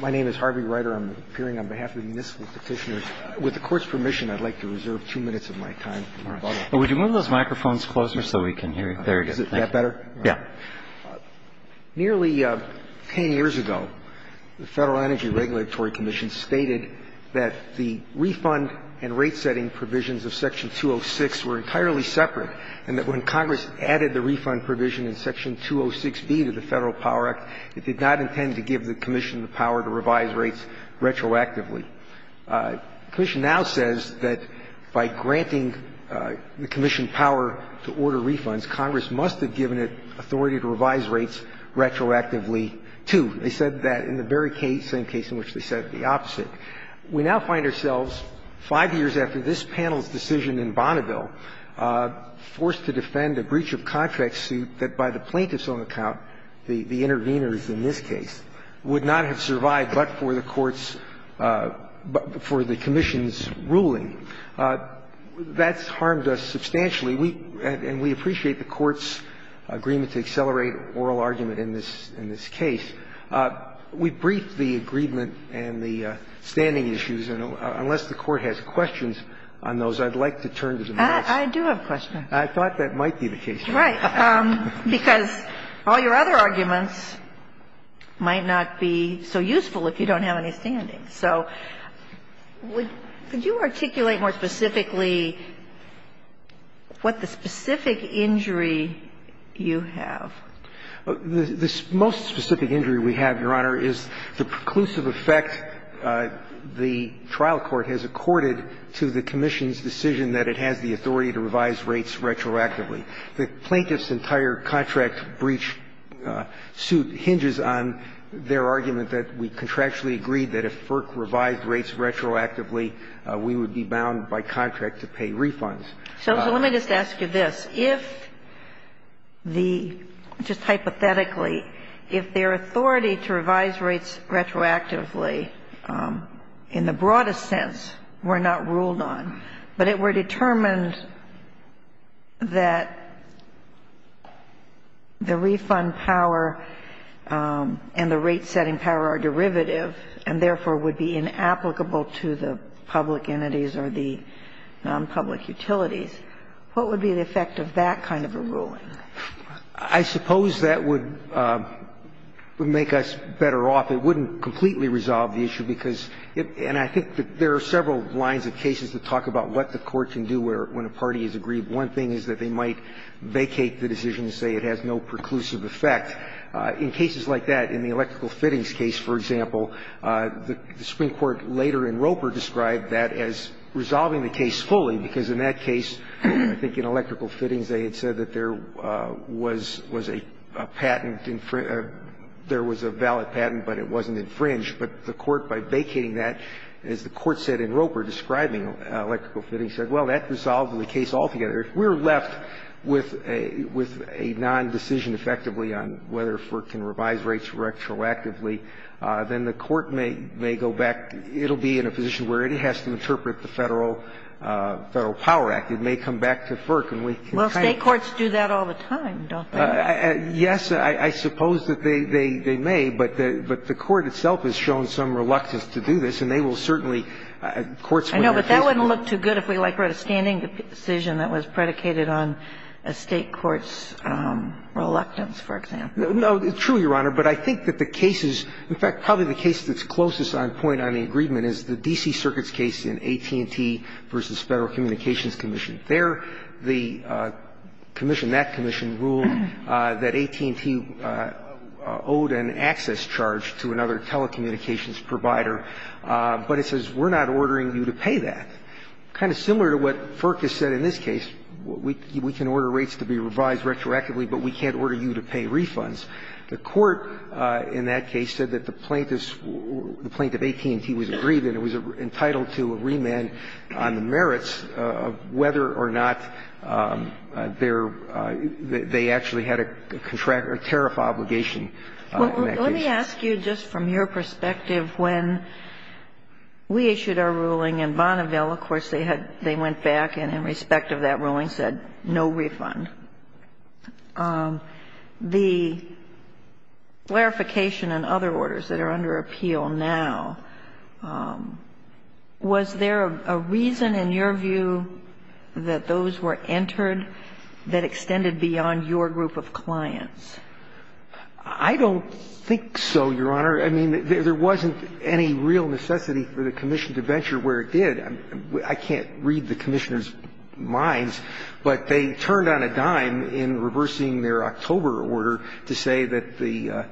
My name is Harvey Ryder. I'm appearing on behalf of the municipal petitioners. With the Court's permission, I'd like to reserve two minutes of my time. Would you move those microphones closer so we can hear you? Is that better? Yeah. Nearly 10 years ago, the Federal Energy Regulatory Commission stated that the refund and rate-setting provisions of Section 206 were entirely separate and that when Congress added the refund provision in Section 206B to the Federal Power Act, it did not intend to give the Commission the power to revise rates retroactively. The Commission now says that by granting the Commission power to order refunds, Congress must have given it authority to revise rates retroactively, too. They said that in the very same case in which they said the opposite. We now find ourselves, five years after this panel's decision in Bonneville, forced to defend a breach of contract suit that by the plaintiff's own account, the intervenors in this case, would not have survived but for the Court's – but for the Commission's ruling. That's harmed us substantially. And we appreciate the Court's agreement to accelerate oral argument in this case. We briefed the agreement and the standing issues. And unless the Court has questions on those, I'd like to turn to the courts. I do have a question. I thought that might be the case. Right. Because all your other arguments might not be so useful if you don't have any standings. So would you articulate more specifically what the specific injury you have? The most specific injury we have, Your Honor, is the preclusive effect the trial court has accorded to the Commission's decision that it has the authority to revise rates retroactively. The plaintiff's entire contract breach suit hinges on their argument that we contractually agreed that if FERC revised rates retroactively, we would be bound by contract to pay refunds. So let me just ask you this. If the – just hypothetically, if their authority to revise rates retroactively in the broadest sense were not ruled on, but it were determined that the refund power and the rate-setting power are derivative and therefore would be inapplicable to the public entities or the nonpublic utilities, what would be the effect of that kind of a ruling? I suppose that would make us better off. It wouldn't completely resolve the issue, because it – and I think that there are several lines of cases that talk about what the court can do when a party is aggrieved. One thing is that they might vacate the decision and say it has no preclusive effect. In cases like that, in the electrical fittings case, for example, the Supreme Court later in Roper described that as resolving the case fully, because in that case, I think in electrical fittings, they had said that there was a patent – there was a valid patent, but it wasn't infringed. But the court, by vacating that, as the court said in Roper, describing electrical fittings, said, well, that resolves the case altogether. If we're left with a non-decision effectively on whether FERC can revise rates retroactively, then the court may go back. It will be in a position where it has to interpret the Federal Power Act. It may come back to FERC, and we can try to do that. Kagan. Well, State courts do that all the time, don't they? Yes, I suppose that they may, but the court itself has shown some reluctance to do this, and they will certainly – courts when they're faced with it. I know, but that wouldn't look too good if we, like, wrote a standing decision that was predicated on a State court's reluctance, for example. No, true, Your Honor, but I think that the cases – in fact, probably the case that's closest on point on the agreement is the D.C. Circuit's case in AT&T v. Federal Communications Commission. There, the commission, that commission, ruled that AT&T owed an access charge to another telecommunications provider, but it says, we're not ordering you to pay that. Kind of similar to what FERC has said in this case, we can order rates to be revised retroactively, but we can't order you to pay refunds. The court in that case said that the plaintiff's – the plaintiff AT&T was aggrieved and it was entitled to a remand on the merits of whether or not they're – they actually had a contract – a tariff obligation in that case. Well, let me ask you just from your perspective, when we issued our ruling in Bonneville, of course, they had – they went back and in respect of that ruling said no refund. The clarification and other orders that are under appeal now, was there a reason in your view that those were entered that extended beyond your group of clients? I don't think so, Your Honor. I mean, there wasn't any real necessity for the commission to venture where it did. I can't read the commissioners' minds, but they turned on a dime in reversing their October order to say that the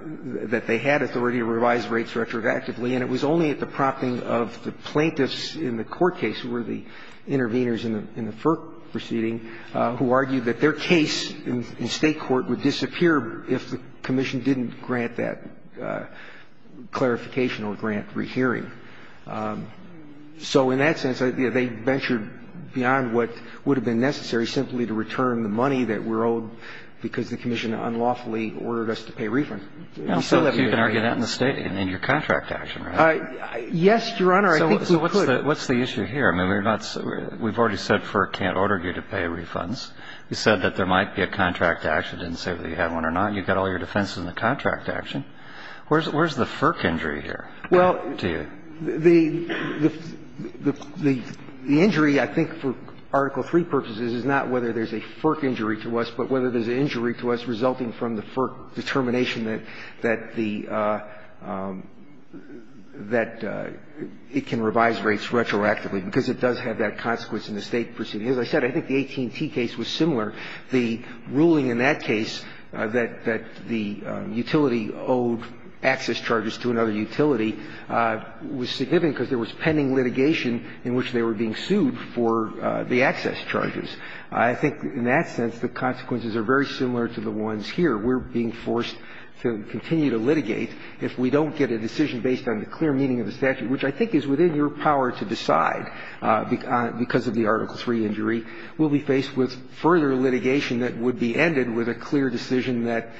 – that they had authority to revise rates retroactively, and it was only at the prompting of the plaintiffs in the court case who were the interveners in the FERC proceeding who argued that their case in State court would disappear if the commission didn't grant that clarification or grant rehearing. So in that sense, they ventured beyond what would have been necessary simply to return the money that we're owed because the commission unlawfully ordered us to pay a refund. I don't see that being the case. So you can argue that in the State, in your contract action, right? Yes, Your Honor. I think we could. So what's the issue here? I mean, we're not – we've already said FERC can't order you to pay refunds. You said that there might be a contract action. It didn't say whether you had one or not. Where's the FERC injury here? Well – The injury, I think, for Article III purposes is not whether there's a FERC injury to us, but whether there's an injury to us resulting from the FERC determination that the – that it can revise rates retroactively, because it does have that consequence in the State proceeding. As I said, I think the 18t case was similar. The ruling in that case that the utility owed access charges to another utility was significant because there was pending litigation in which they were being sued for the access charges. I think in that sense, the consequences are very similar to the ones here. We're being forced to continue to litigate if we don't get a decision based on the clear meaning of the statute, which I think is within your power to decide, because of the Article III injury. We'll be faced with further litigation that would be ended with a clear decision that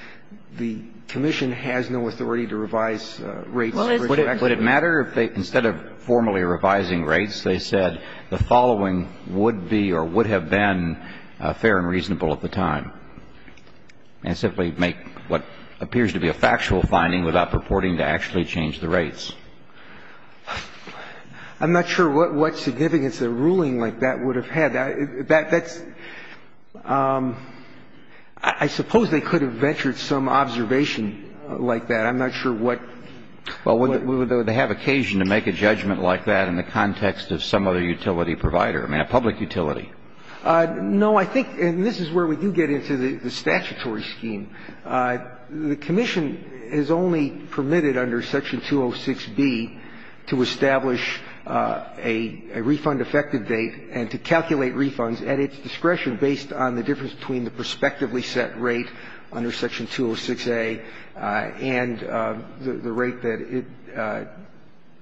the commission has no authority to revise rates retroactively. Would it matter if they – instead of formally revising rates, they said the following would be or would have been fair and reasonable at the time, and simply make what appears to be a factual finding without purporting to actually change the rates? I'm not sure what significance a ruling like that would have had. That's – I suppose they could have ventured some observation like that. I'm not sure what – Well, would they have occasion to make a judgment like that in the context of some other utility provider? I mean, a public utility. No, I think – and this is where we do get into the statutory scheme. The commission is only permitted under Section 206B to establish a refund effective date and to calculate refunds at its discretion based on the difference between the prospectively set rate under Section 206A and the rate that it –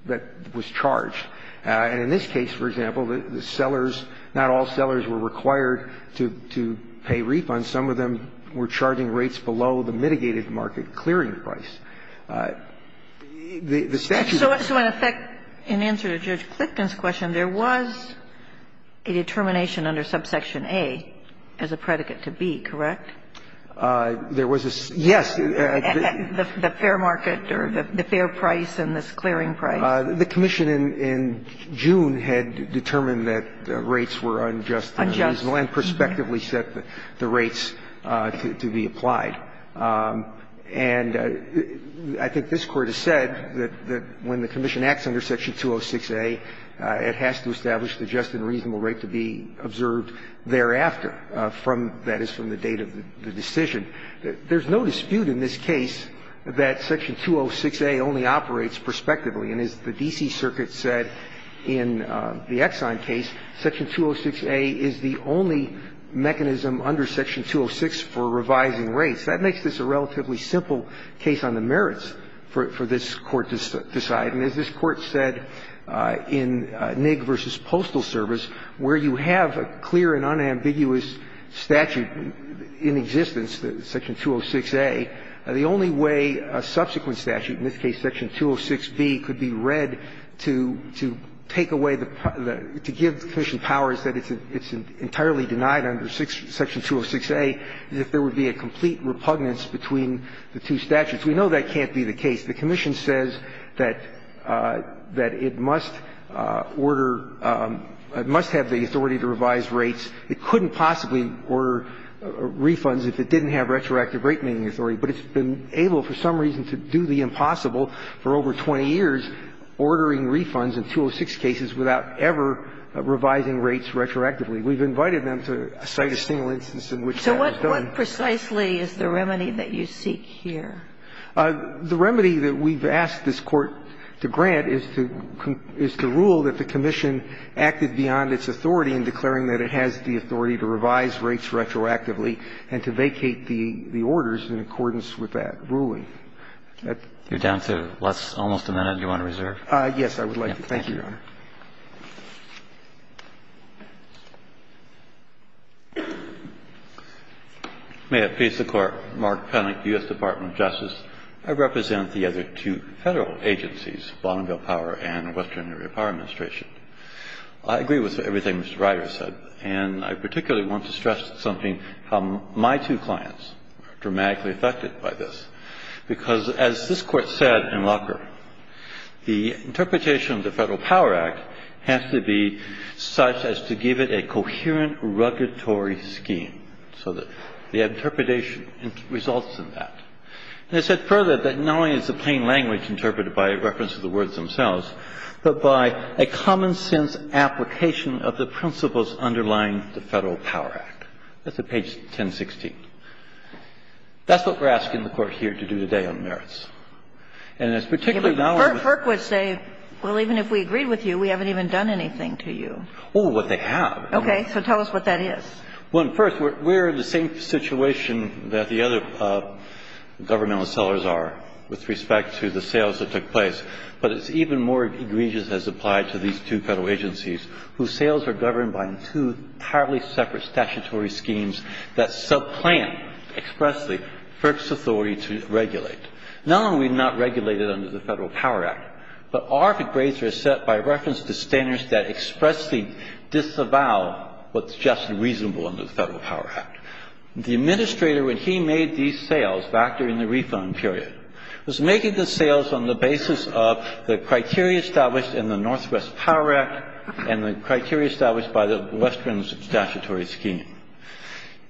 that was charged. And in this case, for example, the sellers – not all sellers were required to pay refunds. Some of them were charging rates below the mitigated market clearing price. The statute was – So in effect, in answer to Judge Clifton's question, there was a determination under Subsection A as a predicate to B, correct? There was a – yes. The fair market or the fair price and this clearing price. The commission in June had determined that rates were unjust and reasonable and prospectively set the rates to be applied. And I think this Court has said that when the commission acts under Section 206A, it has to establish the just and reasonable rate to be observed thereafter, from – that is, from the date of the decision. There's no dispute in this case that Section 206A only operates prospectively. And as the D.C. Circuit said in the Exxon case, Section 206A is the only mechanism under Section 206 for revising rates. That makes this a relatively simple case on the merits for this Court to decide. And as this Court said in Nigg v. Postal Service, where you have a clear and unambiguous statute in existence, Section 206A, the only way a subsequent statute, in this case Section 206B, could be read to take away the – to give the commission powers that it's entirely denied under Section 206A is if there would be a complete repugnance between the two statutes. We know that can't be the case. The commission says that it must order – must have the authority to revise rates. It couldn't possibly order refunds if it didn't have retroactive rate-meeting authority, but it's been able, for some reason, to do the impossible for over 20 years, ordering refunds in 206 cases without ever revising rates retroactively. We've invited them to cite a single instance in which that has done. So what precisely is the remedy that you seek here? The remedy that we've asked this Court to grant is to rule that the commission acted beyond its authority in declaring that it has the authority to revise rates retroactively and to vacate the orders in accordance with that ruling. That's the question. You're down to almost a minute. Do you want to reserve? Yes, I would like to. Thank you, Your Honor. May it please the Court, Mark Pennick, U.S. Department of Justice. I represent the other two Federal agencies, Bonneville Power and Western Area Power Administration. I agree with everything Mr. Reiter said, and I particularly want to stress something about how my two clients are dramatically affected by this, because as this Court said in Locker, the interpretation of the Federal Power Act has to be such as to give it a coherent regulatory scheme so that the interpretation results in that. And I said further that not only is the plain language interpreted by reference to the words themselves, but by a common-sense application of the principles underlying the Federal Power Act. That's at page 1016. That's what we're asking the Court here to do today on merits. And it's particularly now that we're going to do that. FERC would say, well, even if we agreed with you, we haven't even done anything to you. Oh, but they have. Okay. So tell us what that is. Well, first, we're in the same situation that the other governmental sellers are with respect to the sales that took place. But it's even more egregious as applied to these two Federal agencies whose sales are governed by two entirely separate statutory schemes that sub-plan expressly FERC's authority to regulate. Not only are we not regulated under the Federal Power Act, but our grades are set by reference to standards that expressly disavow what's just and reasonable under the Federal Power Act. The administrator, when he made these sales back during the refund period, was making the sales on the basis of the criteria established in the Northwest Power Act and the criteria established by the Western statutory scheme.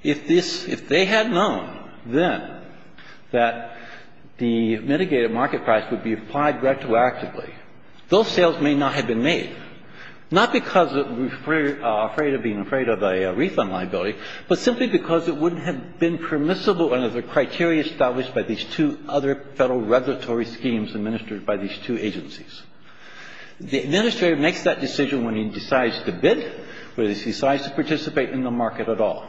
If this – if they had known then that the mitigated market price would be applied retroactively, those sales may not have been made, not because we're afraid of being afraid of a refund liability, but simply because it wouldn't have been permissible under the criteria established by these two other Federal regulatory schemes administered by these two agencies. The administrator makes that decision when he decides to bid, when he decides to participate in the market at all.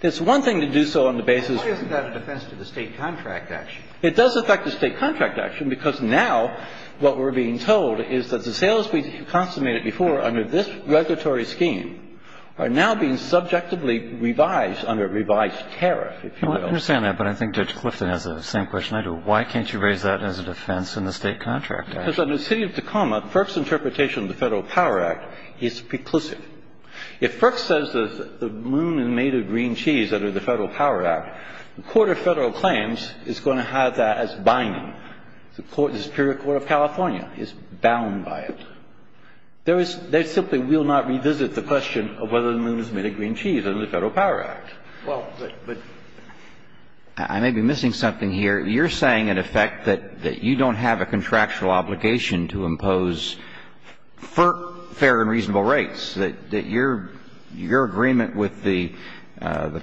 It's one thing to do so on the basis of the State contract action. It does affect the State contract action, because now what we're being told is that the sales we consummated before under this regulatory scheme are now being subjectively revised under a revised tariff, if you will. I understand that, but I think Judge Clifton has the same question I do. Why can't you raise that as a defense in the State contract act? Because under the city of Tacoma, FERC's interpretation of the Federal Power Act is preclusive. If FERC says there's a moon made of green cheese under the Federal Power Act, the Court of Federal Claims is going to have that as binding. The Superior Court of California is bound by it. There is — they simply will not revisit the question of whether the moon is made of green cheese under the Federal Power Act. Well, but I may be missing something here. You're saying, in effect, that you don't have a contractual obligation to impose FERC fair and reasonable rates, that your agreement with the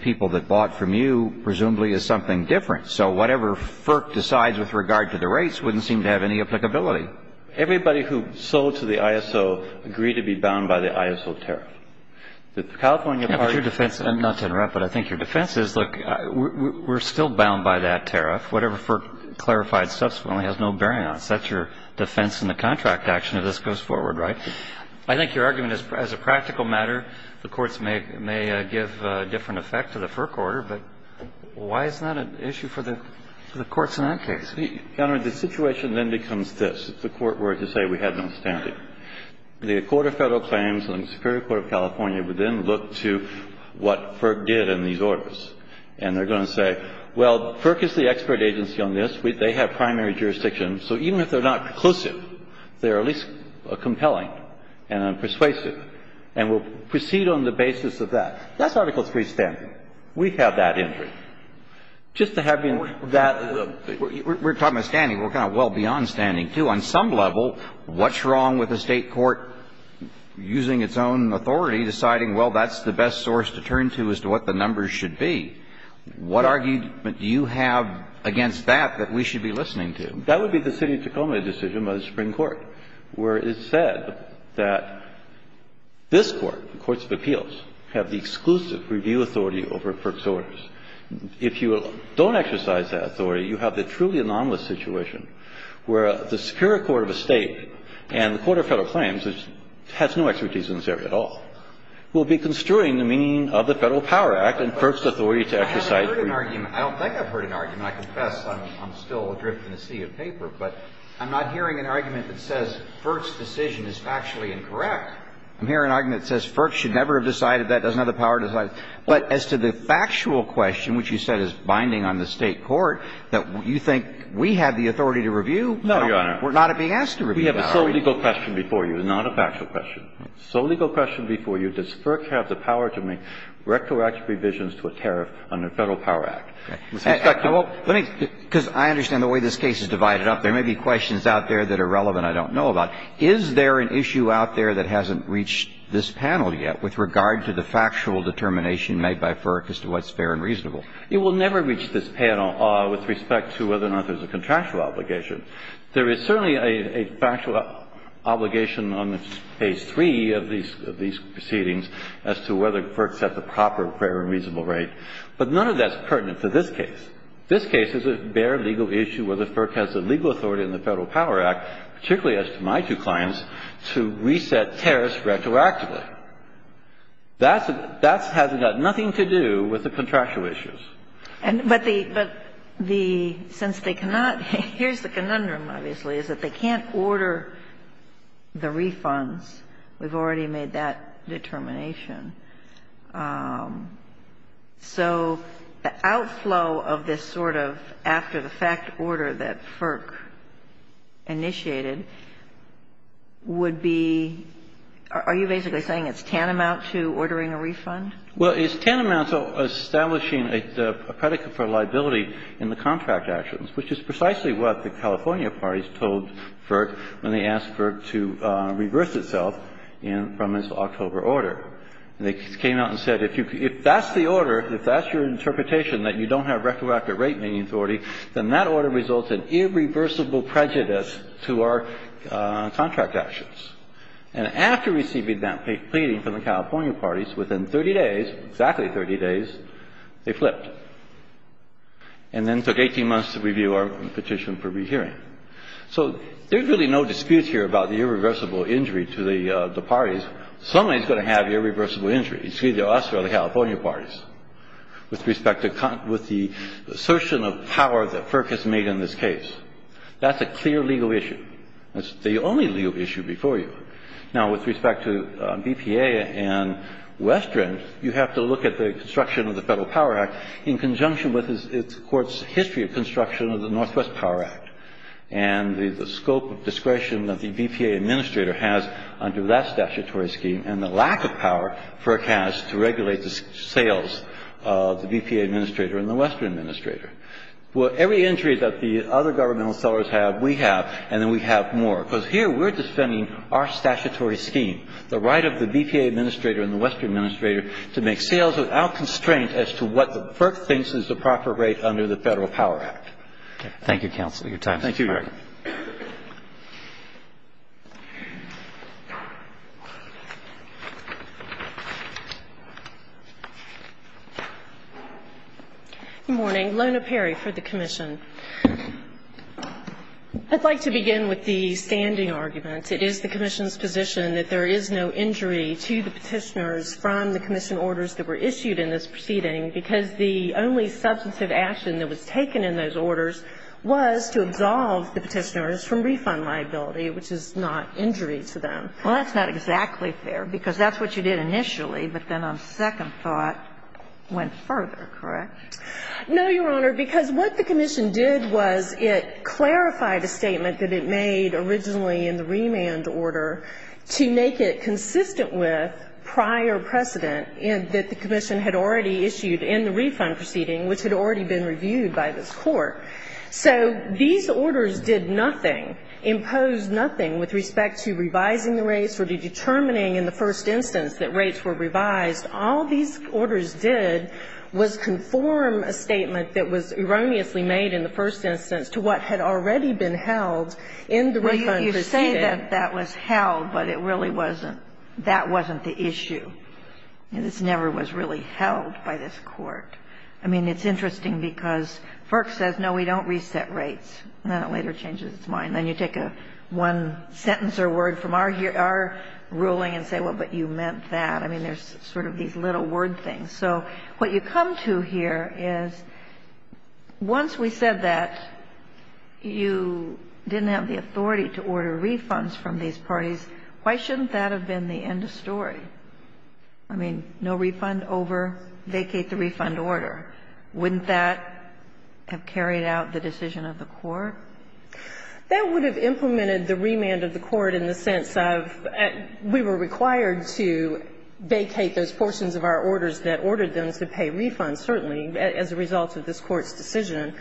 people that bought from you presumably is something different. So whatever FERC decides with regard to the rates wouldn't seem to have any applicability. Everybody who sold to the ISO agreed to be bound by the ISO tariff. The California party — But your defense — not to interrupt, but I think your defense is, look, we're still bound by that tariff. Whatever FERC clarified subsequently has no bearing on it. So that's your defense in the contract action if this goes forward, right? I think your argument is, as a practical matter, the courts may give a different effect to the FERC order, but why is that an issue for the courts in that case? Your Honor, the situation then becomes this. If the Court were to say we have no standing, the Court of Federal Claims and the Superior Court of California would then look to what FERC did in these orders. And they're going to say, well, FERC is the expert agency on this. They have primary jurisdiction. So even if they're not conclusive, they're at least compelling and persuasive and will proceed on the basis of that. That's Article III standing. We have that in it. Just to have you in that — We're talking about standing. We're kind of well beyond standing, too. On some level, what's wrong with a State court using its own authority, deciding, well, that's the best source to turn to as to what the numbers should be? What argument do you have against that that we should be listening to? That would be the city of Tacoma decision by the Supreme Court, where it said that this Court, the Courts of Appeals, have the exclusive review authority over FERC's orders. If you don't exercise that authority, you have the truly anomalous situation where the Superior Court of a State and the Court of Federal Claims, which has no expertise in this area at all, will be construing the meaning of the Federal Power Act and FERC's authority to exercise review. I haven't heard an argument. I don't think I've heard an argument. I confess I'm still adrift in a sea of paper, but I'm not hearing an argument that says FERC's decision is factually incorrect. I'm hearing an argument that says FERC should never have decided that, doesn't have the power to decide. But as to the factual question, which you said is binding on the State court, that you think we have the authority to review? No, Your Honor. We're not being asked to review that. We have a sole legal question before you, not a factual question. Sole legal question before you, does FERC have the power to make rectal action revisions to a tariff under Federal Power Act? With respect to the law, let me – because I understand the way this case is divided up, there may be questions out there that are relevant I don't know about. Is there an issue out there that hasn't reached this panel yet with regard to the factual determination made by FERC as to what's fair and reasonable? You will never reach this panel with respect to whether or not there's a contractual obligation. There is certainly a factual obligation on page 3 of these proceedings as to whether FERC sets a proper fair and reasonable rate. But none of that's pertinent to this case. This case is a bare legal issue whether FERC has the legal authority in the Federal Power Act, particularly as to my two clients, to reset tariffs retroactively. That's – that has got nothing to do with the contractual issues. But the – but the – since they cannot – here's the conundrum, obviously, is that they can't order the refunds. We've already made that determination. So the outflow of this sort of after-the-fact order that FERC initiated would be – are you basically saying it's tantamount to ordering a refund? Well, it's tantamount to establishing a predicate for liability in the contract actions, which is precisely what the California parties told FERC when they asked FERC to reverse itself in – from its October order. And they came out and said if you – if that's the order, if that's your interpretation that you don't have retroactive rate-meaning authority, then that order results in irreversible prejudice to our contract actions. And after receiving that pleading from the California parties, within 30 days, exactly 30 days, they flipped and then took 18 months to review our petition for rehearing. So there's really no dispute here about the irreversible injury to the parties. Somebody's going to have irreversible injury. It's either us or the California parties. With respect to – with the assertion of power that FERC has made in this case. That's a clear legal issue. That's the only legal issue before you. Now, with respect to BPA and Western, you have to look at the construction of the Federal Power Act in conjunction with its – the Court's history of construction of the Northwest Power Act and the scope of discretion that the BPA administrator has under that statutory scheme and the lack of power FERC has to regulate the sales of the BPA administrator and the Western administrator. Well, every injury that the other governmental sellers have, we have, and then we have more, because here we're defending our statutory scheme, the right of the BPA administrator and the Western administrator to make sales without constraint as to what FERC thinks is the proper rate under the Federal Power Act. Your time is up. Thank you, Your Honor. Good morning. Lona Perry for the Commission. I'd like to begin with the standing argument. It is the Commission's position that there is no injury to the Petitioners from the Commission orders that were issued in this proceeding because the only substantive action that was taken in those orders was to absolve the Petitioners from refund liability, which is not injury to them. Well, that's not exactly fair, because that's what you did initially, but then a second thought went further, correct? No, Your Honor, because what the Commission did was it clarified a statement that it made originally in the remand order to make it consistent with prior precedent that the Commission had already issued in the refund proceeding, which had already been reviewed by this Court. So these orders did nothing, imposed nothing with respect to revising the rates or to determining in the first instance that rates were revised. All these orders did was conform a statement that was erroneously made in the first instance to what had already been held in the refund proceeding. Well, you say that that was held, but it really wasn't the issue. This never was really held by this Court. I mean, it's interesting because FERC says, no, we don't reset rates, and then it later changes its mind. Then you take one sentence or word from our ruling and say, well, but you meant that. I mean, there's sort of these little word things. So what you come to here is once we said that you didn't have the authority to order refunds from these parties, why shouldn't that have been the end of story? I mean, no refund over, vacate the refund order. Wouldn't that have carried out the decision of the Court? That would have implemented the remand of the Court in the sense of we were required to vacate those portions of our orders that ordered them to pay refunds, certainly, as a result of this Court's decision.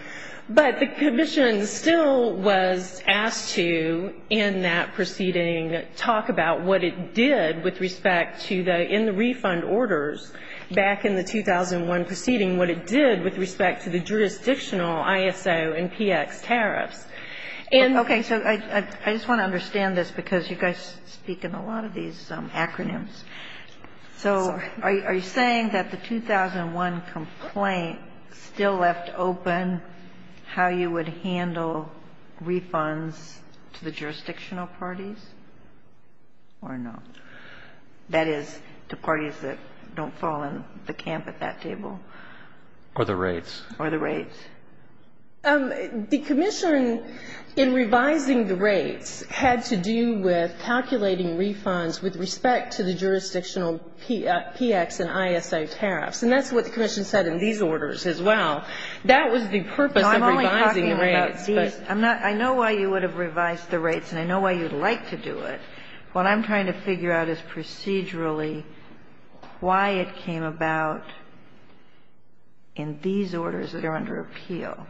But the commission still was asked to, in that proceeding, talk about what it did with respect to the end refund orders back in the 2001 proceeding, what it did with respect to the jurisdictional ISO and PX tariffs. And so I just want to understand this, because you guys speak in a lot of these acronyms. So are you saying that the 2001 complaint still left open how you would handle refunds to the jurisdictional parties or not? That is, to parties that don't fall in the camp at that table? Or the rates. Or the rates. The commission, in revising the rates, had to do with calculating refunds with respect to the jurisdictional PX and ISO tariffs. And that's what the commission said in these orders as well. That was the purpose of revising the rates. No, I'm only talking about these. I'm not – I know why you would have revised the rates, and I know why you'd like to do it. What I'm trying to figure out is procedurally why it came about in these orders that are under appeal.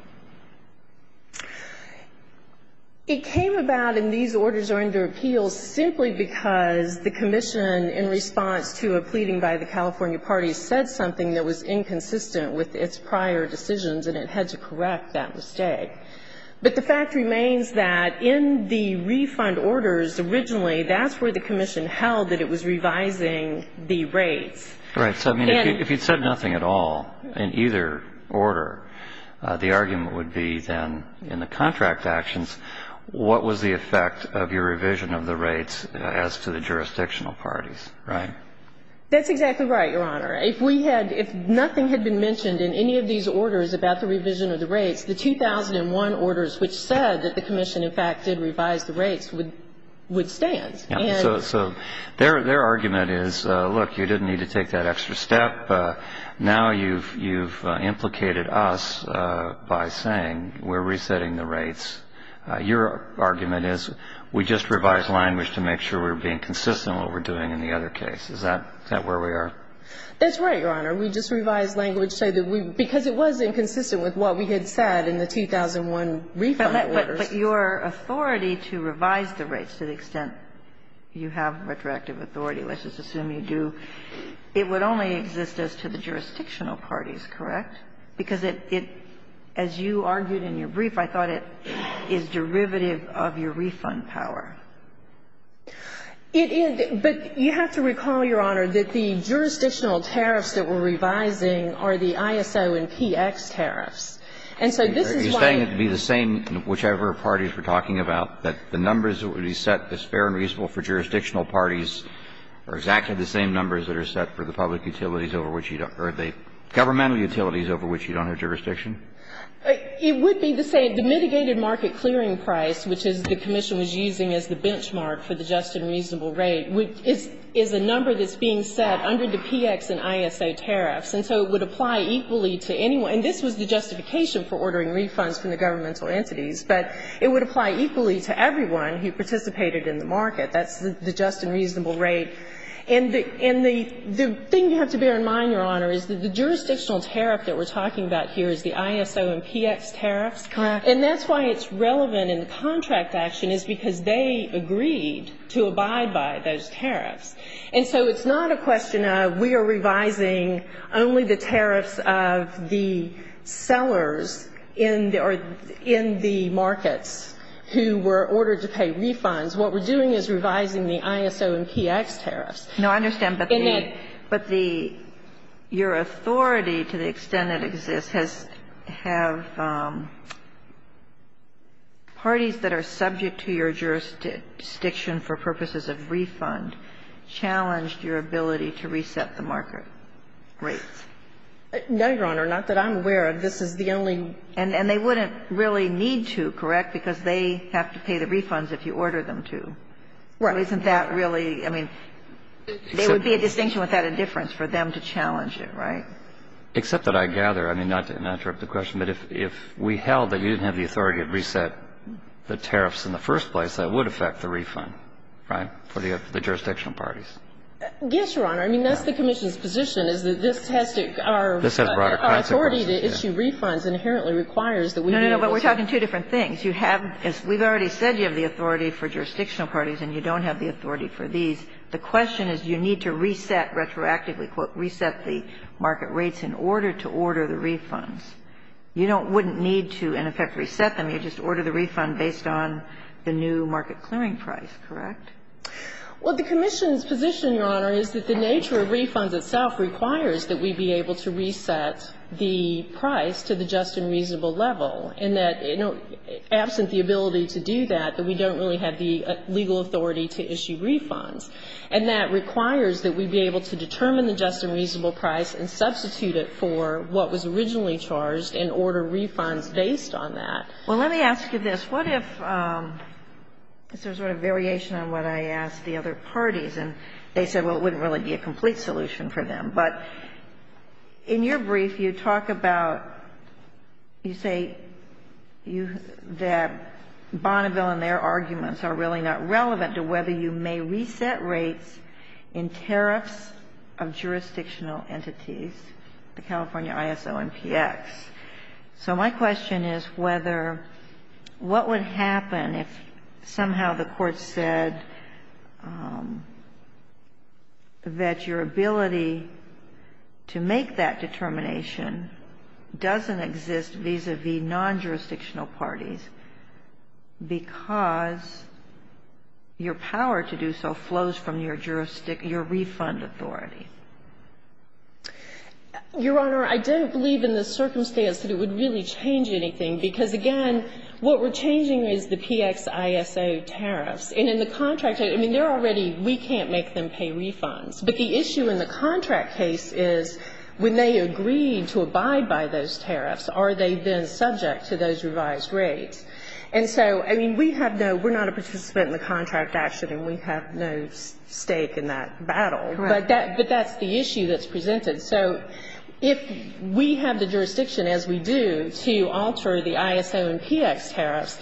It came about in these orders that are under appeal simply because the commission in response to a pleading by the California parties said something that was inconsistent with its prior decisions, and it had to correct that mistake. But the fact remains that in the refund orders originally, that's where the commission held that it was revising the rates. Right. So, I mean, if you said nothing at all in either order, the argument would be then in the contract actions, what was the effect of your revision of the rates as to the jurisdictional parties, right? That's exactly right, Your Honor. If we had – if nothing had been mentioned in any of these orders about the revision of the rates, the 2001 orders which said that the commission, in fact, did revise the rates would stand. So their argument is, look, you didn't need to take that extra step. Now you've implicated us by saying we're resetting the rates. Your argument is we just revised language to make sure we're being consistent with what we're doing in the other case. Is that where we are? That's right, Your Honor. We just revised language so that we – because it was inconsistent with what we had said in the 2001 refund orders. But your authority to revise the rates to the extent you have retroactive authority, let's just assume you do, it would only exist as to the jurisdictional parties, correct? Because it – as you argued in your brief, I thought it is derivative of your refund power. It is, but you have to recall, Your Honor, that the jurisdictional tariffs that we're revising are the ISO and PX tariffs. And so this is why you – You're saying it would be the same in whichever parties we're talking about, that the numbers that would be set as fair and reasonable for jurisdictional parties are exactly the same numbers that are set for the public utilities over which you don't – or the governmental utilities over which you don't have jurisdiction? It would be the same. The mitigated market clearing price, which is the commission was using as the benchmark for the just and reasonable rate, is a number that's being set under the PX and ISO tariffs. And so it would apply equally to anyone – and this was the justification for ordering refunds from the governmental entities. But it would apply equally to everyone who participated in the market. That's the just and reasonable rate. And the – and the thing you have to bear in mind, Your Honor, is that the jurisdictional tariff that we're talking about here is the ISO and PX tariffs. Correct. And that's why it's relevant in the contract action is because they agreed to abide by those tariffs. And so it's not a question of we are revising only the tariffs of the sellers in the – or in the markets who were ordered to pay refunds. What we're doing is revising the ISO and PX tariffs. No, I understand. But the – but the – your authority to the extent it exists has – have parties that are subject to your jurisdiction for purposes of refund. And so if you're saying that there's no reason to be concerned that the tariffs of the sellers and the refund challenged your ability to reset the market rates. No, Your Honor. Not that I'm aware of. This is the only – And they wouldn't really need to, correct, because they have to pay the refunds if you order them to. Well, isn't that really, I mean, there would be a distinction without a difference for them to challenge it, right? Except that I gather – I mean, not to interrupt the question, but if we held that we didn't have the authority to reset the tariffs in the first place, that would affect the refund, right, for the jurisdictional parties. Yes, Your Honor. I mean, that's the Commission's position is that this has to – our authority to issue refunds inherently requires that we be able to – No, no, no. But we're talking two different things. You have – as we've already said, you have the authority for jurisdictional parties and you don't have the authority for these. The question is you need to reset – retroactively, quote, reset the market rates in order to order the refunds. You don't – wouldn't need to, in effect, reset them. You just order the refund based on the new market clearing price, correct? Well, the Commission's position, Your Honor, is that the nature of refunds itself requires that we be able to reset the price to the just and reasonable level, and that, you know, absent the ability to do that, that we don't really have the legal authority to issue refunds. And that requires that we be able to determine the just and reasonable price and substitute it for what was originally charged and order refunds based on that. Well, let me ask you this. What if – is there sort of variation on what I asked the other parties? And they said, well, it wouldn't really be a complete solution for them. But in your brief, you talk about – you say you – that Bonneville and their arguments are really not relevant to whether you may reset rates in tariffs of jurisdictional entities, the California ISO and PX. So my question is whether – what would happen if somehow the Court said that your ability to make that determination doesn't exist vis-a-vis non-jurisdictional parties because your power to do so flows from your jurisdiction – your refund authority? Your Honor, I don't believe in the circumstance that it would really change anything. Because, again, what we're changing is the PXISO tariffs. And in the contract – I mean, they're already – we can't make them pay refunds. But the issue in the contract case is when they agreed to abide by those tariffs, are they then subject to those revised rates? And so, I mean, we have no – we're not a participant in the contract action, and we have no stake in that battle. Correct. But that's the issue that's presented. So if we have the jurisdiction, as we do, to alter the ISO and PX tariffs,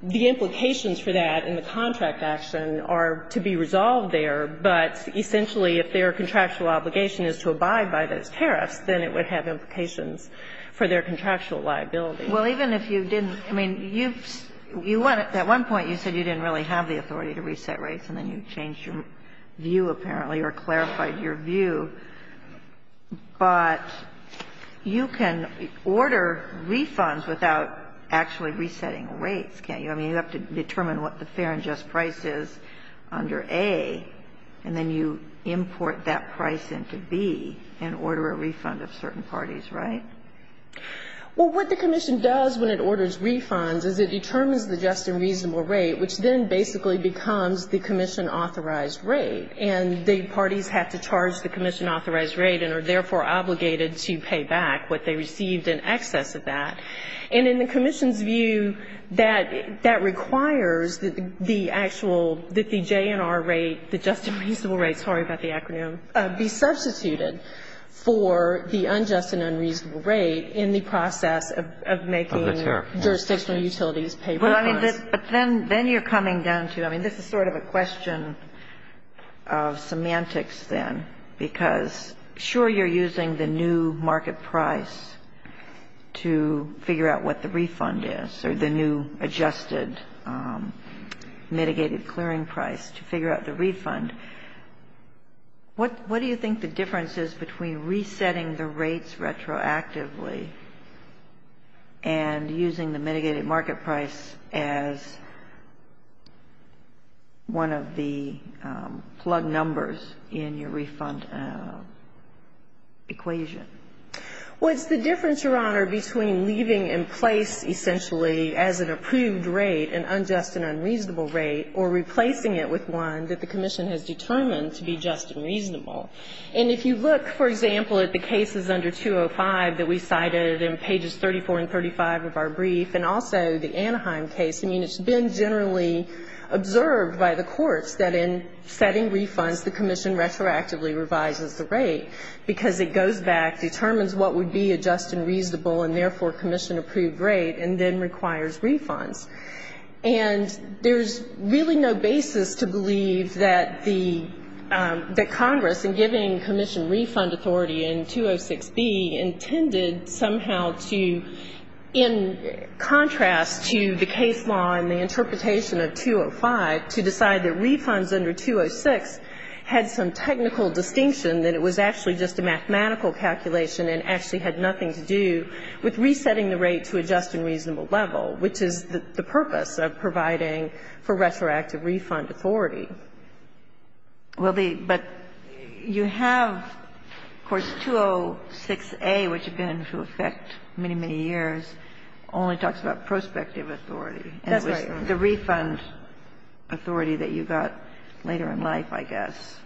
the implications for that in the contract action are to be resolved there. But essentially, if their contractual obligation is to abide by those tariffs, then it would have implications for their contractual liability. Well, even if you didn't – I mean, you've – you want to – at one point, you said you didn't really have the authority to reset rates, and then you changed your view, apparently, or clarified your view. But you can order refunds without actually resetting rates, can't you? I mean, you have to determine what the fair and just price is under A, and then you import that price into B and order a refund of certain parties, right? Well, what the commission does when it orders refunds is it determines the just and reasonable rate, which then basically becomes the commission-authorized rate, and the parties have to charge the commission-authorized rate and are therefore obligated to pay back what they received in excess of that. And in the commission's view, that requires the actual – that the JNR rate, the just and reasonable rate – sorry about the acronym – be substituted for the unjust and unreasonable rate in the process of making jurisdictional utilities pay refunds. But then you're coming down to – I mean, this is sort of a question of semantics then, because, sure, you're using the new market price to figure out what the refund is, or the new adjusted mitigated clearing price to figure out the refund. What do you think the difference is between resetting the rates retroactively and using the mitigated market price as one of the plug numbers in your refund equation? Well, it's the difference, Your Honor, between leaving in place essentially as an approved rate an unjust and unreasonable rate or replacing it with one that the commission has determined to be just and reasonable. And if you look, for example, at the cases under 205 that we cited in pages 34 and 35 of our brief, and also the Anaheim case, I mean, it's been generally observed by the courts that in setting refunds the commission retroactively revises the rate because it goes back, determines what would be a just and reasonable and therefore commission-approved rate, and then requires refunds. And there's really no basis to believe that the Congress, in giving commission refund authority in 206B, intended somehow to, in contrast to the case law and the interpretation of 205, to decide that refunds under 206 had some technical distinction, that it was actually just a mathematical calculation and actually had nothing to do with resetting the rate to a just and reasonable level, which is the purpose of providing for retroactive refund authority. Well, but you have, of course, 206A, which has been into effect many, many years, only talks about prospective authority. That's right. The refund authority that you got later in life, I guess.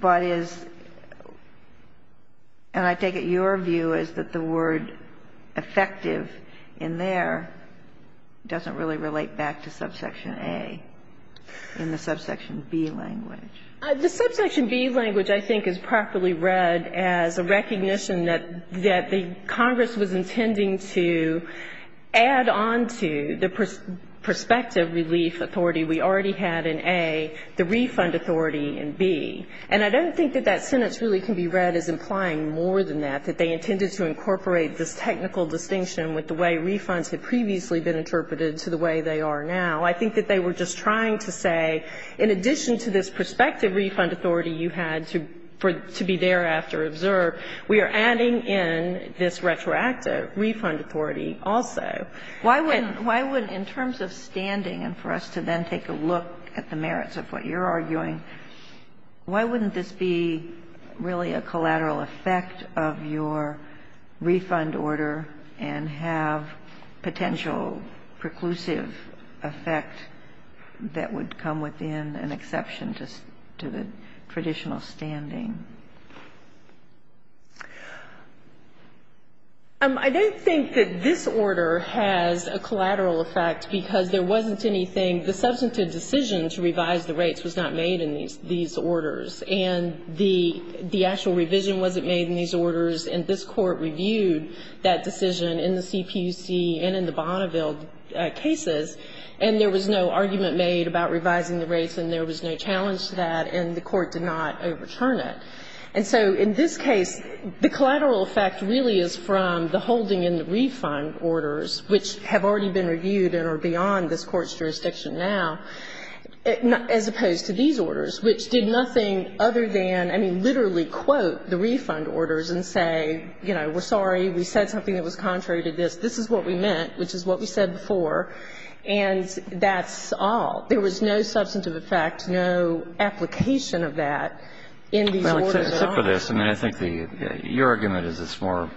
But is, and I take it your view is that the word effective in there doesn't really relate back to subsection A in the subsection B language. The subsection B language, I think, is properly read as a recognition that the Congress was intending to add on to the prospective relief authority we already had in A, the refund authority in B. And I don't think that that sentence really can be read as implying more than that, that they intended to incorporate this technical distinction with the way refunds had previously been interpreted to the way they are now. I think that they were just trying to say, in addition to this prospective refund authority you had to be thereafter observed, we are adding in this retroactive refund authority also. Why would, in terms of standing, and for us to then take a look at the merits of what you're arguing, why wouldn't this be really a collateral effect of your refund order and have potential preclusive effect that would come within an exception to the traditional standing? I don't think that this order has a collateral effect because there wasn't anything, the substantive decision to revise the rates was not made in these orders. And the actual revision wasn't made in these orders, and this Court reviewed that decision in the CPUC and in the Bonneville cases, and there was no argument made about revising the rates, and there was no challenge to that, and the Court did not overturn it. And so in this case, the collateral effect really is from the holding in the refund orders, which have already been reviewed and are beyond this Court's jurisdiction now, as opposed to these orders, which did nothing other than, I mean, literally quote the refund orders and say, you know, we're sorry, we said something that was contrary to this. This is what we meant, which is what we said before, and that's all. There was no substantive effect, no application of that in these orders at all. Justice, I mean, I think your argument is it's more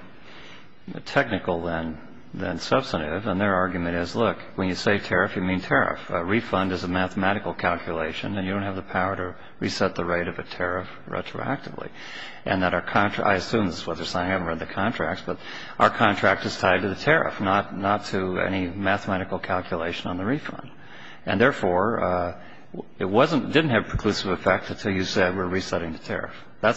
technical than substantive, and their argument is, look, when you say tariff, you mean tariff. A refund is a mathematical calculation, and you don't have the power to reset the rate of a tariff retroactively. And that our contract, I assume this is what they're saying, I haven't read the contracts, but our contract is tied to the tariff, not to any mathematical calculation on the refund. And therefore, it didn't have preclusive effect until you said we're resetting the tariff in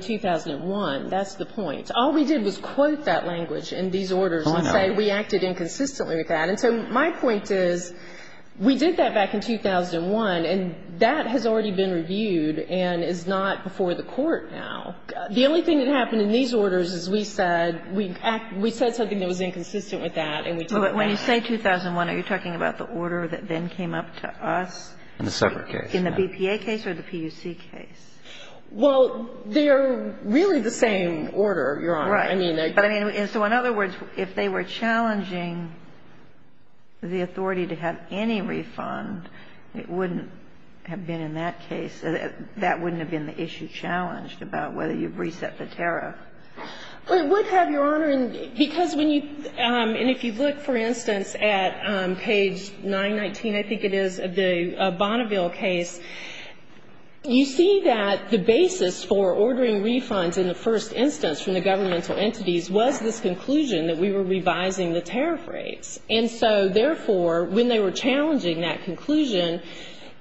2001. That's the point. All we did was quote that language in these orders and say we acted inconsistently with that. And so my point is, we did that back in 2001, and that has already been reviewed and is not before the Court now. The only thing that happened in these orders is we said, we said something that was inconsistent with that, and we took that back. But when you say 2001, are you talking about the order that then came up to us? In the separate case. In the BPA case or the PUC case? Well, they're really the same order, Your Honor. Right. But I mean, so in other words, if they were challenging the authority to have any refund, it wouldn't have been in that case. That wouldn't have been the issue challenged about whether you reset the tariff. It would have, Your Honor, because when you – and if you look, for instance, at page 919, I think it is, the Bonneville case, you see that the basis for ordering refunds in the first instance from the governmental entities was this conclusion that we were revising the tariff rates. And so, therefore, when they were challenging that conclusion,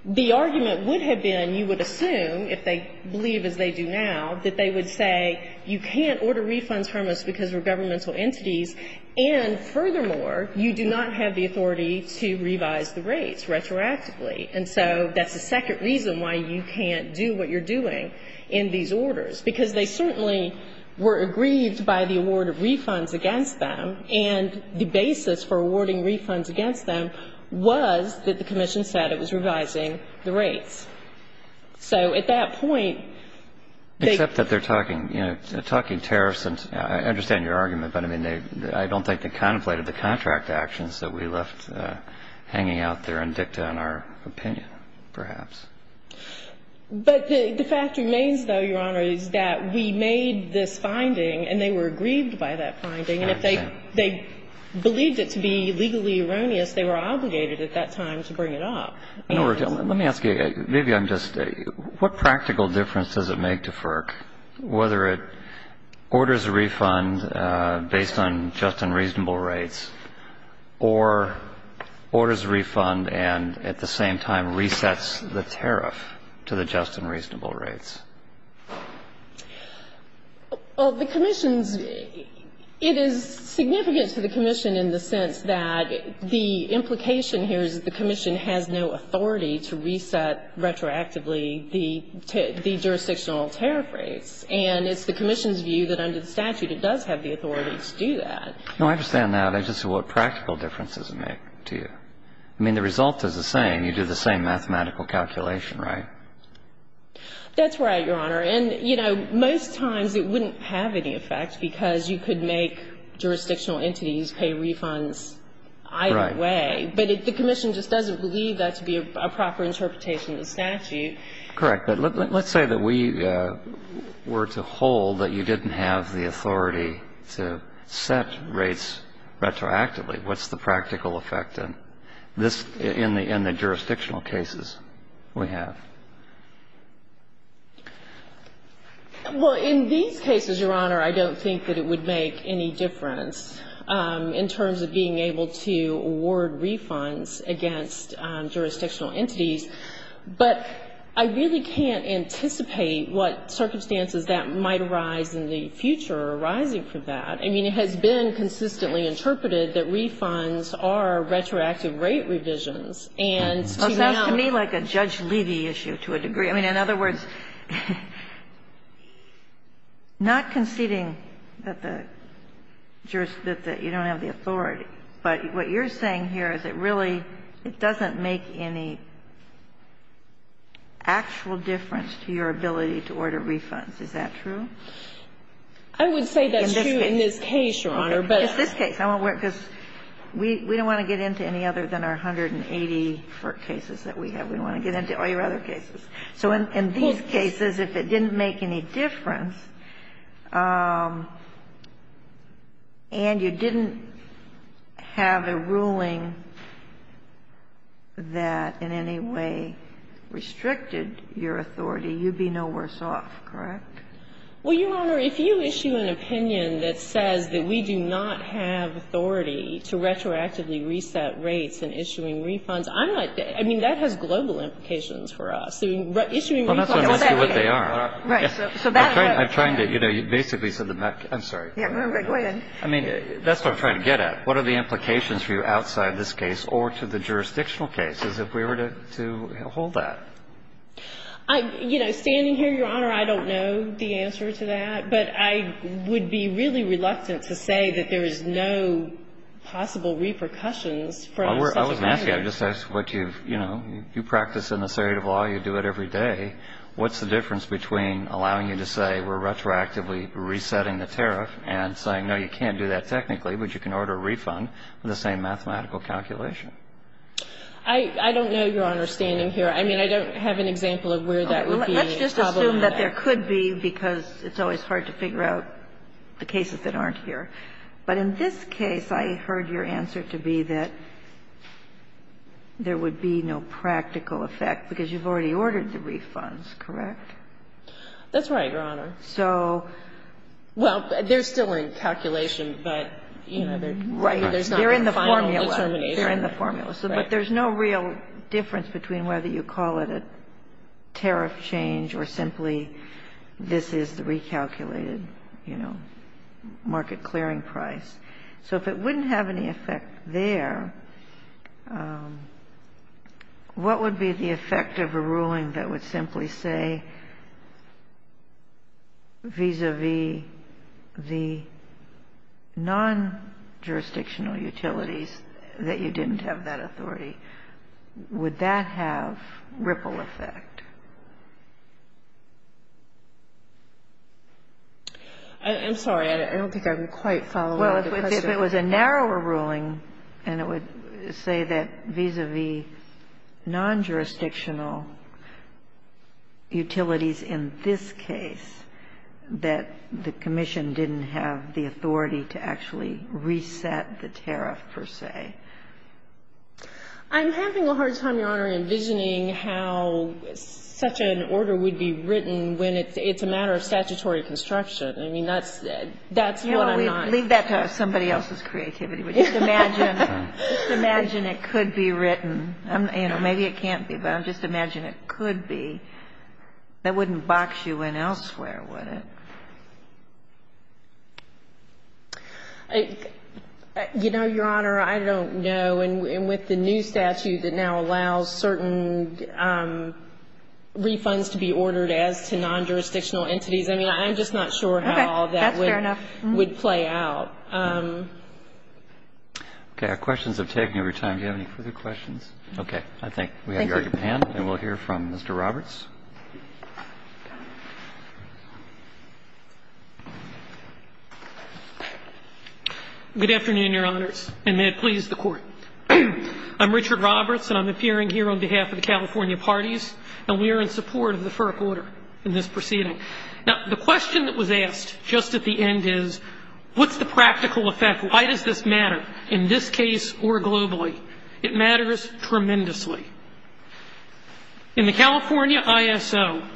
the argument would have been, you would assume, if they believe as they do now, that they would say you can't order refunds from us because we're governmental entities, and furthermore, you do not have the authority to revise the rates retroactively. And so that's the second reason why you can't do what you're doing in these orders, because they certainly were aggrieved by the award of refunds against them, and the basis for awarding refunds against them was that the commission said it was revising the rates. So at that point, they – Except that they're talking – you know, talking tariffs and – I understand your argument, but I mean, I don't think they contemplated the contract actions that we left hanging out there in dicta in our opinion, perhaps. But the fact remains, though, Your Honor, is that we made this finding and they were aggrieved by that finding. I understand. And if they believed it to be legally erroneous, they were obligated at that time to bring it up. Let me ask you, maybe I'm just – what practical difference does it make to FERC whether it orders a refund based on just and reasonable rates or orders a refund and at the same time resets the tariff to the just and reasonable rates? Well, the commission's – it is significant to the commission in the sense that the implication here is that the commission has no authority to reset retroactively the jurisdictional tariff rates. And it's the commission's view that under the statute it does have the authority to do that. No, I understand that. I just – what practical difference does it make to you? I mean, the result is the same. You do the same mathematical calculation, right? That's right, Your Honor. And, you know, most times it wouldn't have any effect because you could make jurisdictional entities pay refunds either way. Right. But the commission just doesn't believe that to be a proper interpretation of the statute. Correct. But let's say that we were to hold that you didn't have the authority to set rates retroactively. What's the practical effect in this – in the jurisdictional cases we have? Well, in these cases, Your Honor, I don't think that it would make any difference in terms of being able to award refunds against jurisdictional entities. But I really can't anticipate what circumstances that might arise in the future arising from that. I mean, it has been consistently interpreted that refunds are retroactive rate revisions. And to now – Well, it sounds to me like a Judge Levy issue to a degree. I mean, in other words, not conceding that the jurist – that you don't have the authority, but what you're saying here is it really – it doesn't make any actual difference to your ability to order refunds. Is that true? In this case. I would say that's true in this case, Your Honor, but – In this case. I won't worry because we don't want to get into any other than our 180 cases that we have. We don't want to get into all your other cases. So in these cases, if it didn't make any difference and you didn't have a ruling that in any way restricted your authority, you'd be no worse off, correct? Well, Your Honor, if you issue an opinion that says that we do not have authority to retroactively reset rates in issuing refunds, I'm not – I mean, that has global implications for us. Issuing refunds – Well, that's what I'm asking you what they are. Right. So that – I'm trying to – you know, you basically said that – I'm sorry. Yeah, go ahead. I mean, that's what I'm trying to get at. What are the implications for you outside this case or to the jurisdictional cases if we were to hold that? I – you know, standing here, Your Honor, I don't know the answer to that, but I would be really reluctant to say that there is no possible repercussions from such a measure. Well, I wasn't asking that. I just asked what you've – you know, you practice in the state of law. You do it every day. What's the difference between allowing you to say we're retroactively resetting the tariff and saying, no, you can't do that technically, but you can order a refund with the same mathematical calculation? I don't know, Your Honor, standing here. I mean, I don't have an example of where that would be a problem. Let's just assume that there could be because it's always hard to figure out the cases that aren't here. But in this case, I heard your answer to be that there would be no practical effect because you've already ordered the refunds, correct? That's right, Your Honor. So – Well, they're still in calculation, but, you know, there's not a final determination. Right. They're in the formula. They're in the formula. Right. But there's no real difference between whether you call it a tariff change or simply this is the recalculated, you know, market clearing price. So if it wouldn't have any effect there, what would be the effect of a ruling that would simply say vis-a-vis the non-jurisdictional utilities that you didn't have that authority? Would that have ripple effect? I'm sorry. I don't think I'm quite following the question. Well, if it was a narrower ruling and it would say that vis-a-vis non-jurisdictional utilities in this case that the commission didn't have the authority to actually reset the tariff, per se. I'm having a hard time, Your Honor, envisioning how such an order would be written when it's a matter of statutory construction. I mean, that's what I'm not – Leave that to somebody else's creativity. But just imagine it could be written. You know, maybe it can't be, but just imagine it could be. That wouldn't box you in elsewhere, would it? You know, Your Honor, I don't know. And with the new statute that now allows certain refunds to be ordered as to non-jurisdictional entities, I mean, I'm just not sure how all that would play out. Okay. That's fair enough. Okay. Our questions have taken over time. Do you have any further questions? Okay. I think we have your hand. Thank you. And we'll hear from Mr. Roberts. Good afternoon, Your Honors, and may it please the Court. I'm Richard Roberts, and I'm appearing here on behalf of the California Parties, and we are in support of the FERC order in this proceeding. Now, the question that was asked just at the end is, what's the practical effect? Why does this matter in this case or globally? In the current ISO,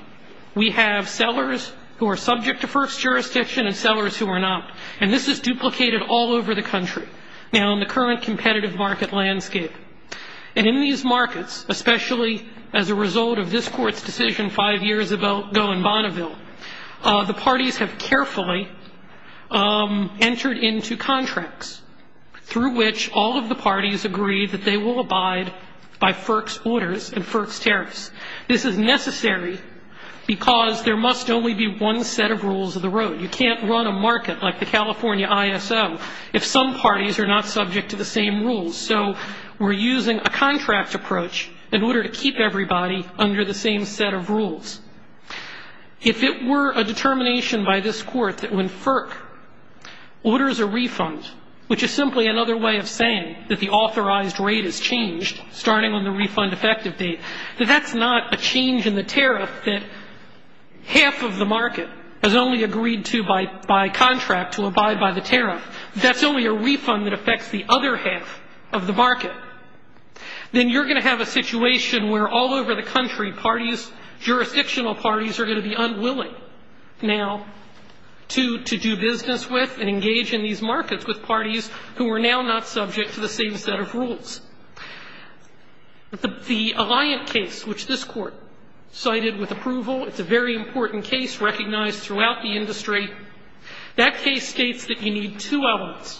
we have sellers who are subject to FERC's jurisdiction and sellers who are not, and this is duplicated all over the country. Now, in the current competitive market landscape, and in these markets, especially as a result of this Court's decision five years ago in Bonneville, the parties have carefully entered into contracts through which all of the parties agree that they will abide by FERC's orders and FERC's tariffs. This is necessary because there must only be one set of rules of the road. You can't run a market like the California ISO if some parties are not subject to the same rules. So we're using a contract approach in order to keep everybody under the same set of rules. If it were a determination by this Court that when FERC orders a refund, which is simply another way of saying that the authorized rate has changed starting on the refund effective date, that that's not a change in the tariff that half of the market has only agreed to by contract to abide by the tariff. That's only a refund that affects the other half of the market. Then you're going to have a situation where all over the country, parties, jurisdictional parties, are going to be unwilling now to do business with and engage in these markets with parties who are now not subject to the same set of rules. The Alliant case, which this Court cited with approval, it's a very important case recognized throughout the industry, that case states that you need two elements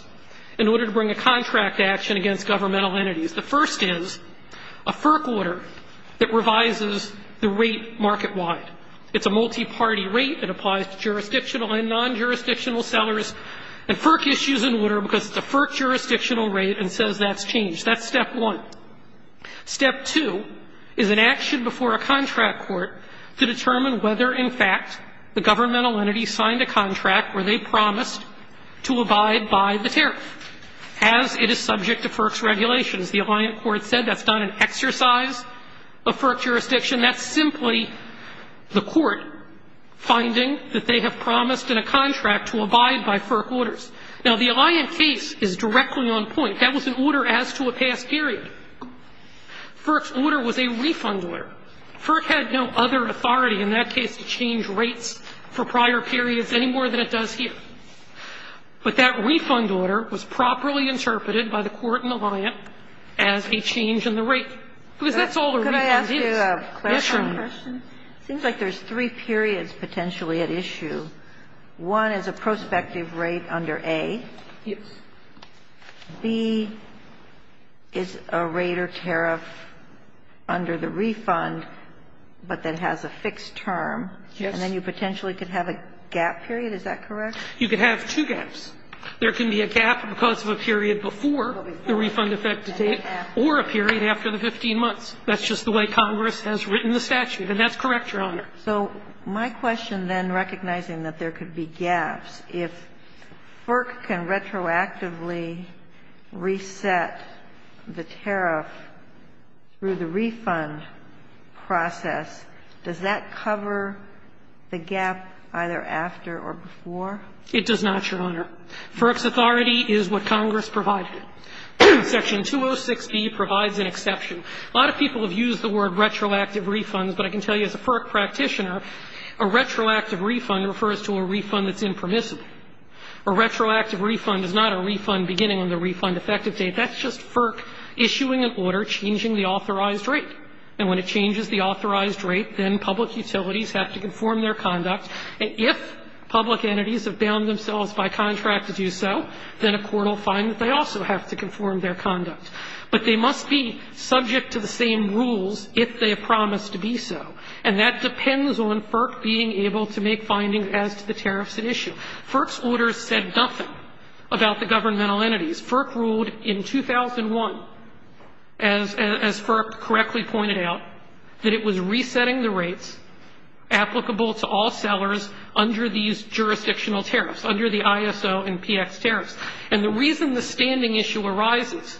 in order to bring a contract to action against governmental entities. The first is a FERC order that revises the rate market-wide. It's a multi-party rate. It applies to jurisdictional and non-jurisdictional sellers. And FERC issues an order because it's a FERC jurisdictional rate and says that's changed. That's step one. Step two is an action before a contract court to determine whether, in fact, the governmental entity signed a contract where they promised to abide by the tariff, as it is subject to FERC's regulations. The Alliant Court said that's not an exercise of FERC jurisdiction. That's simply the court finding that they have promised in a contract to abide by FERC orders. Now, the Alliant case is directly on point. That was an order as to a past period. FERC's order was a refund order. FERC had no other authority in that case to change rates for prior periods any more than it does here. But that refund order was properly interpreted by the court and Alliant as a change in the rate. Because that's all a refund is. Yes, Your Honor. It seems like there's three periods potentially at issue. One is a prospective rate under A. Yes. B is a rate or tariff under the refund, but that has a fixed term. Yes. And then you potentially could have a gap period. Is that correct? You could have two gaps. There can be a gap because of a period before the refund effective date or a period after the 15 months. That's just the way Congress has written the statute. And that's correct, Your Honor. So my question then, recognizing that there could be gaps, if FERC can retroactively reset the tariff through the refund process, does that cover the gap either after or before? It does not, Your Honor. FERC's authority is what Congress provided. Section 206B provides an exception. A lot of people have used the word retroactive refunds, but I can tell you as a FERC practitioner, a retroactive refund refers to a refund that's impermissible. A retroactive refund is not a refund beginning on the refund effective date. That's just FERC issuing an order changing the authorized rate. And when it changes the authorized rate, then public utilities have to conform their conduct. If public entities have bound themselves by contract to do so, then a court will find that they also have to conform their conduct. But they must be subject to the same rules if they promise to be so. And that depends on FERC being able to make findings as to the tariffs at issue. FERC's orders said nothing about the governmental entities. FERC ruled in 2001, as FERC correctly pointed out, that it was resetting the rates applicable to all sellers under these jurisdictional tariffs, under the ISO and PX tariffs. And the reason the standing issue arises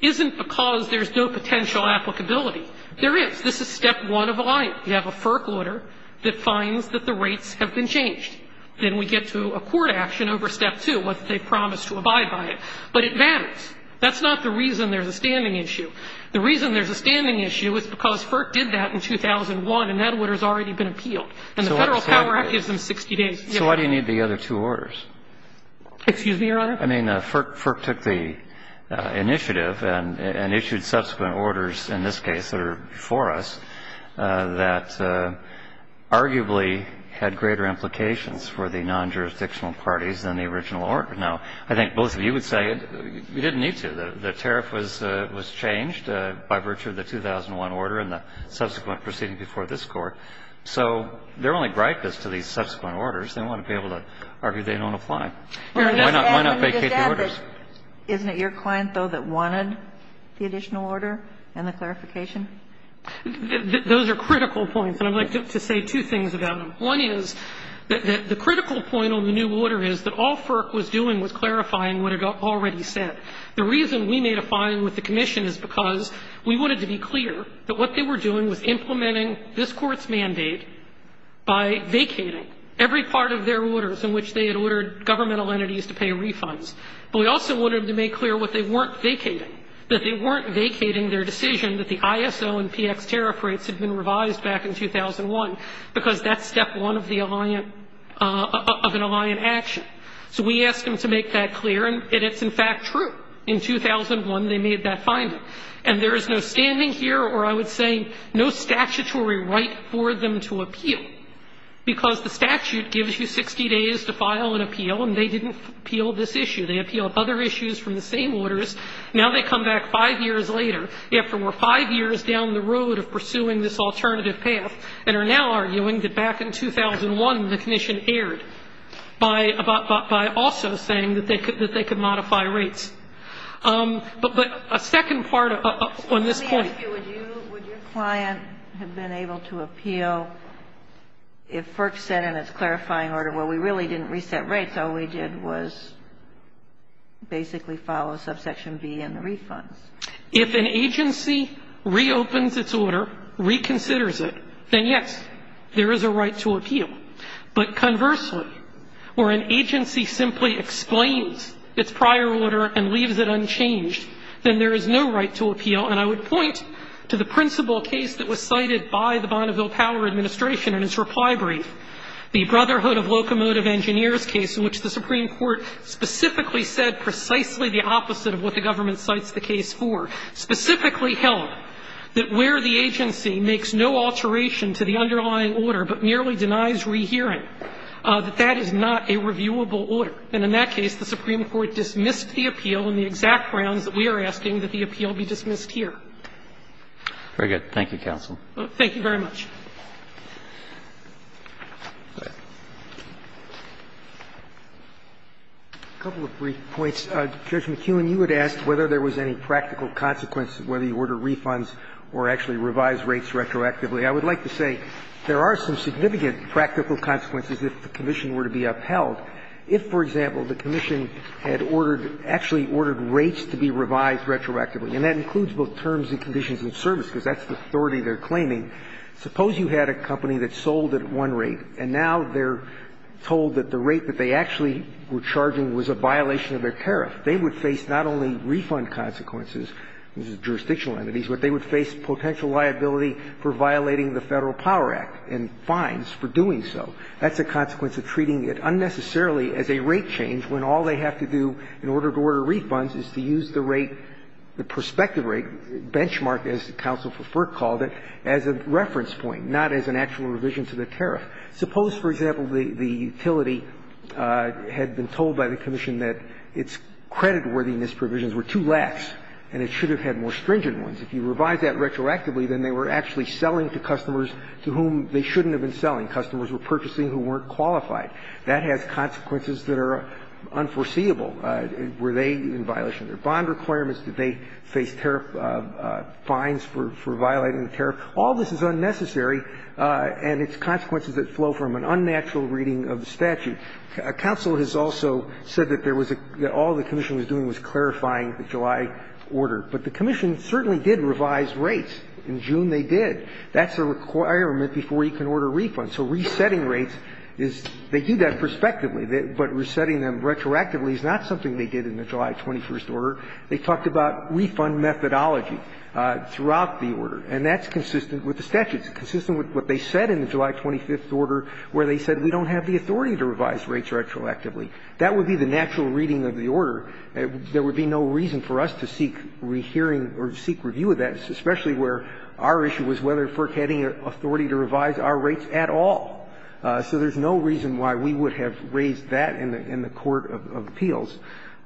isn't because there's no potential applicability. There is. This is step one of a line. You have a FERC order that finds that the rates have been changed. Then we get to a court action over step two, whether they promise to abide by it. But it matters. That's not the reason there's a standing issue. The reason there's a standing issue is because FERC did that in 2001, and that order has already been appealed. And the Federal Power Act gives them 60 days. So why do you need the other two orders? Excuse me, Your Honor? I mean, FERC took the initiative and issued subsequent orders in this case that are before us that arguably had greater implications for the non-jurisdictional parties than the original order. Now, I think both of you would say you didn't need to. The tariff was changed by virtue of the 2001 order and the subsequent proceeding before this Court. So they're only gripe is to these subsequent orders. They want to be able to argue they don't apply. Why not vacate the orders? Isn't it your client, though, that wanted the additional order and the clarification? Those are critical points, and I'd like to say two things about them. One is that the critical point on the new order is that all FERC was doing was clarifying what it already said. The reason we made a fine with the commission is because we wanted to be clear that what they were doing was implementing this Court's mandate by vacating every part of their orders in which they had ordered governmental entities to pay refunds. But we also wanted to make clear what they weren't vacating, that they weren't vacating their decision that the ISO and PX tariff rates had been revised back in 2001 because that's step one of the Alliant of an Alliant action. So we asked them to make that clear, and it's, in fact, true. In 2001, they made that finding. And there is no standing here, or I would say no statutory right for them to appeal because the statute gives you 60 days to file an appeal, and they didn't appeal this issue. They appealed other issues from the same orders. Now they come back five years later. They have to work five years down the road of pursuing this alternative path and are now arguing that back in 2001 the commission erred by also saying that they could modify rates. But a second part on this point. So let me ask you, would you, would your client have been able to appeal if FERC said in its clarifying order, well, we really didn't reset rates, all we did was basically follow subsection B in the refunds? If an agency reopens its order, reconsiders it, then, yes, there is a right to appeal. But conversely, where an agency simply explains its prior order and leaves it unchanged, then there is no right to appeal. And I would point to the principal case that was cited by the Bonneville Power Administration in its reply brief, the Brotherhood of Locomotive Engineers case, in which the Supreme Court specifically said precisely the opposite of what the government cites the case for, specifically held that where the agency makes no to the Supreme Court's rehearing, that that is not a reviewable order. And in that case, the Supreme Court dismissed the appeal on the exact grounds that we are asking that the appeal be dismissed here. Very good. Thank you, counsel. Thank you very much. A couple of brief points. Judge McKeown, you had asked whether there was any practical consequence, whether you ordered refunds or actually revised rates retroactively. I would like to say there are some significant practical consequences if the commission were to be upheld. If, for example, the commission had ordered, actually ordered rates to be revised retroactively, and that includes both terms and conditions of service, because that's the authority they're claiming. Suppose you had a company that sold at one rate, and now they're told that the rate that they actually were charging was a violation of their tariff. They would face not only refund consequences, which is jurisdictional entities, but they would face potential liability for violating the Federal Power Act and fines for doing so. That's a consequence of treating it unnecessarily as a rate change when all they have to do in order to order refunds is to use the rate, the prospective rate, benchmarked rate, as the counsel for FERC called it, as a reference point, not as an actual revision to the tariff. Suppose, for example, the utility had been told by the commission that its credit worthiness provisions were too lax, and it should have had more stringent ones. If you revised that retroactively, then they were actually selling to customers to whom they shouldn't have been selling. Customers were purchasing who weren't qualified. That has consequences that are unforeseeable. Were they in violation of their bond requirements? Did they face tariff fines for violating the tariff? All this is unnecessary, and its consequences that flow from an unnatural reading of the statute. Counsel has also said that there was a – that all the commission was doing was clarifying the July order. But the commission certainly did revise rates. In June, they did. That's a requirement before you can order refunds. So resetting rates is – they do that prospectively, but resetting them retroactively is not something they did in the July 21st order. They talked about refund methodology throughout the order. And that's consistent with the statute. It's consistent with what they said in the July 25th order, where they said we don't have the authority to revise rates retroactively. That would be the natural reading of the order. There would be no reason for us to seek rehearing or seek review of that, especially where our issue was whether FERC had any authority to revise our rates at all. So there's no reason why we would have raised that in the court of appeals.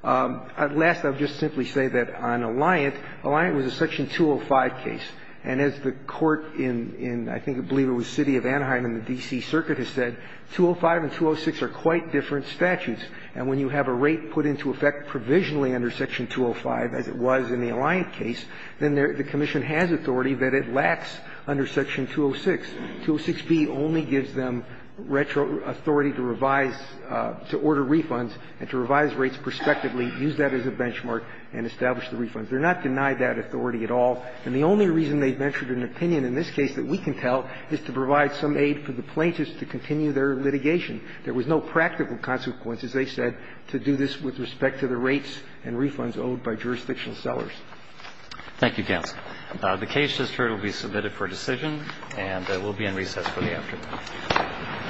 Last, I'll just simply say that on Alliant, Alliant was a section 205 case. And as the court in, I think, I believe it was the city of Anaheim in the D.C. circuit has said, 205 and 206 are quite different statutes. And when you have a rate put into effect provisionally under section 205, as it was in the Alliant case, then the commission has authority that it lacks under section 206. 206B only gives them retro authority to revise, to order refunds and to revise rates prospectively, use that as a benchmark and establish the refunds. They're not denied that authority at all. And the only reason they've mentored an opinion in this case that we can tell is to provide some aid for the plaintiffs to continue their litigation. There was no practical consequence, as they said, to do this with respect to the rates Thank you, counsel. The case just heard will be submitted for decision and it will be in recess for the afternoon.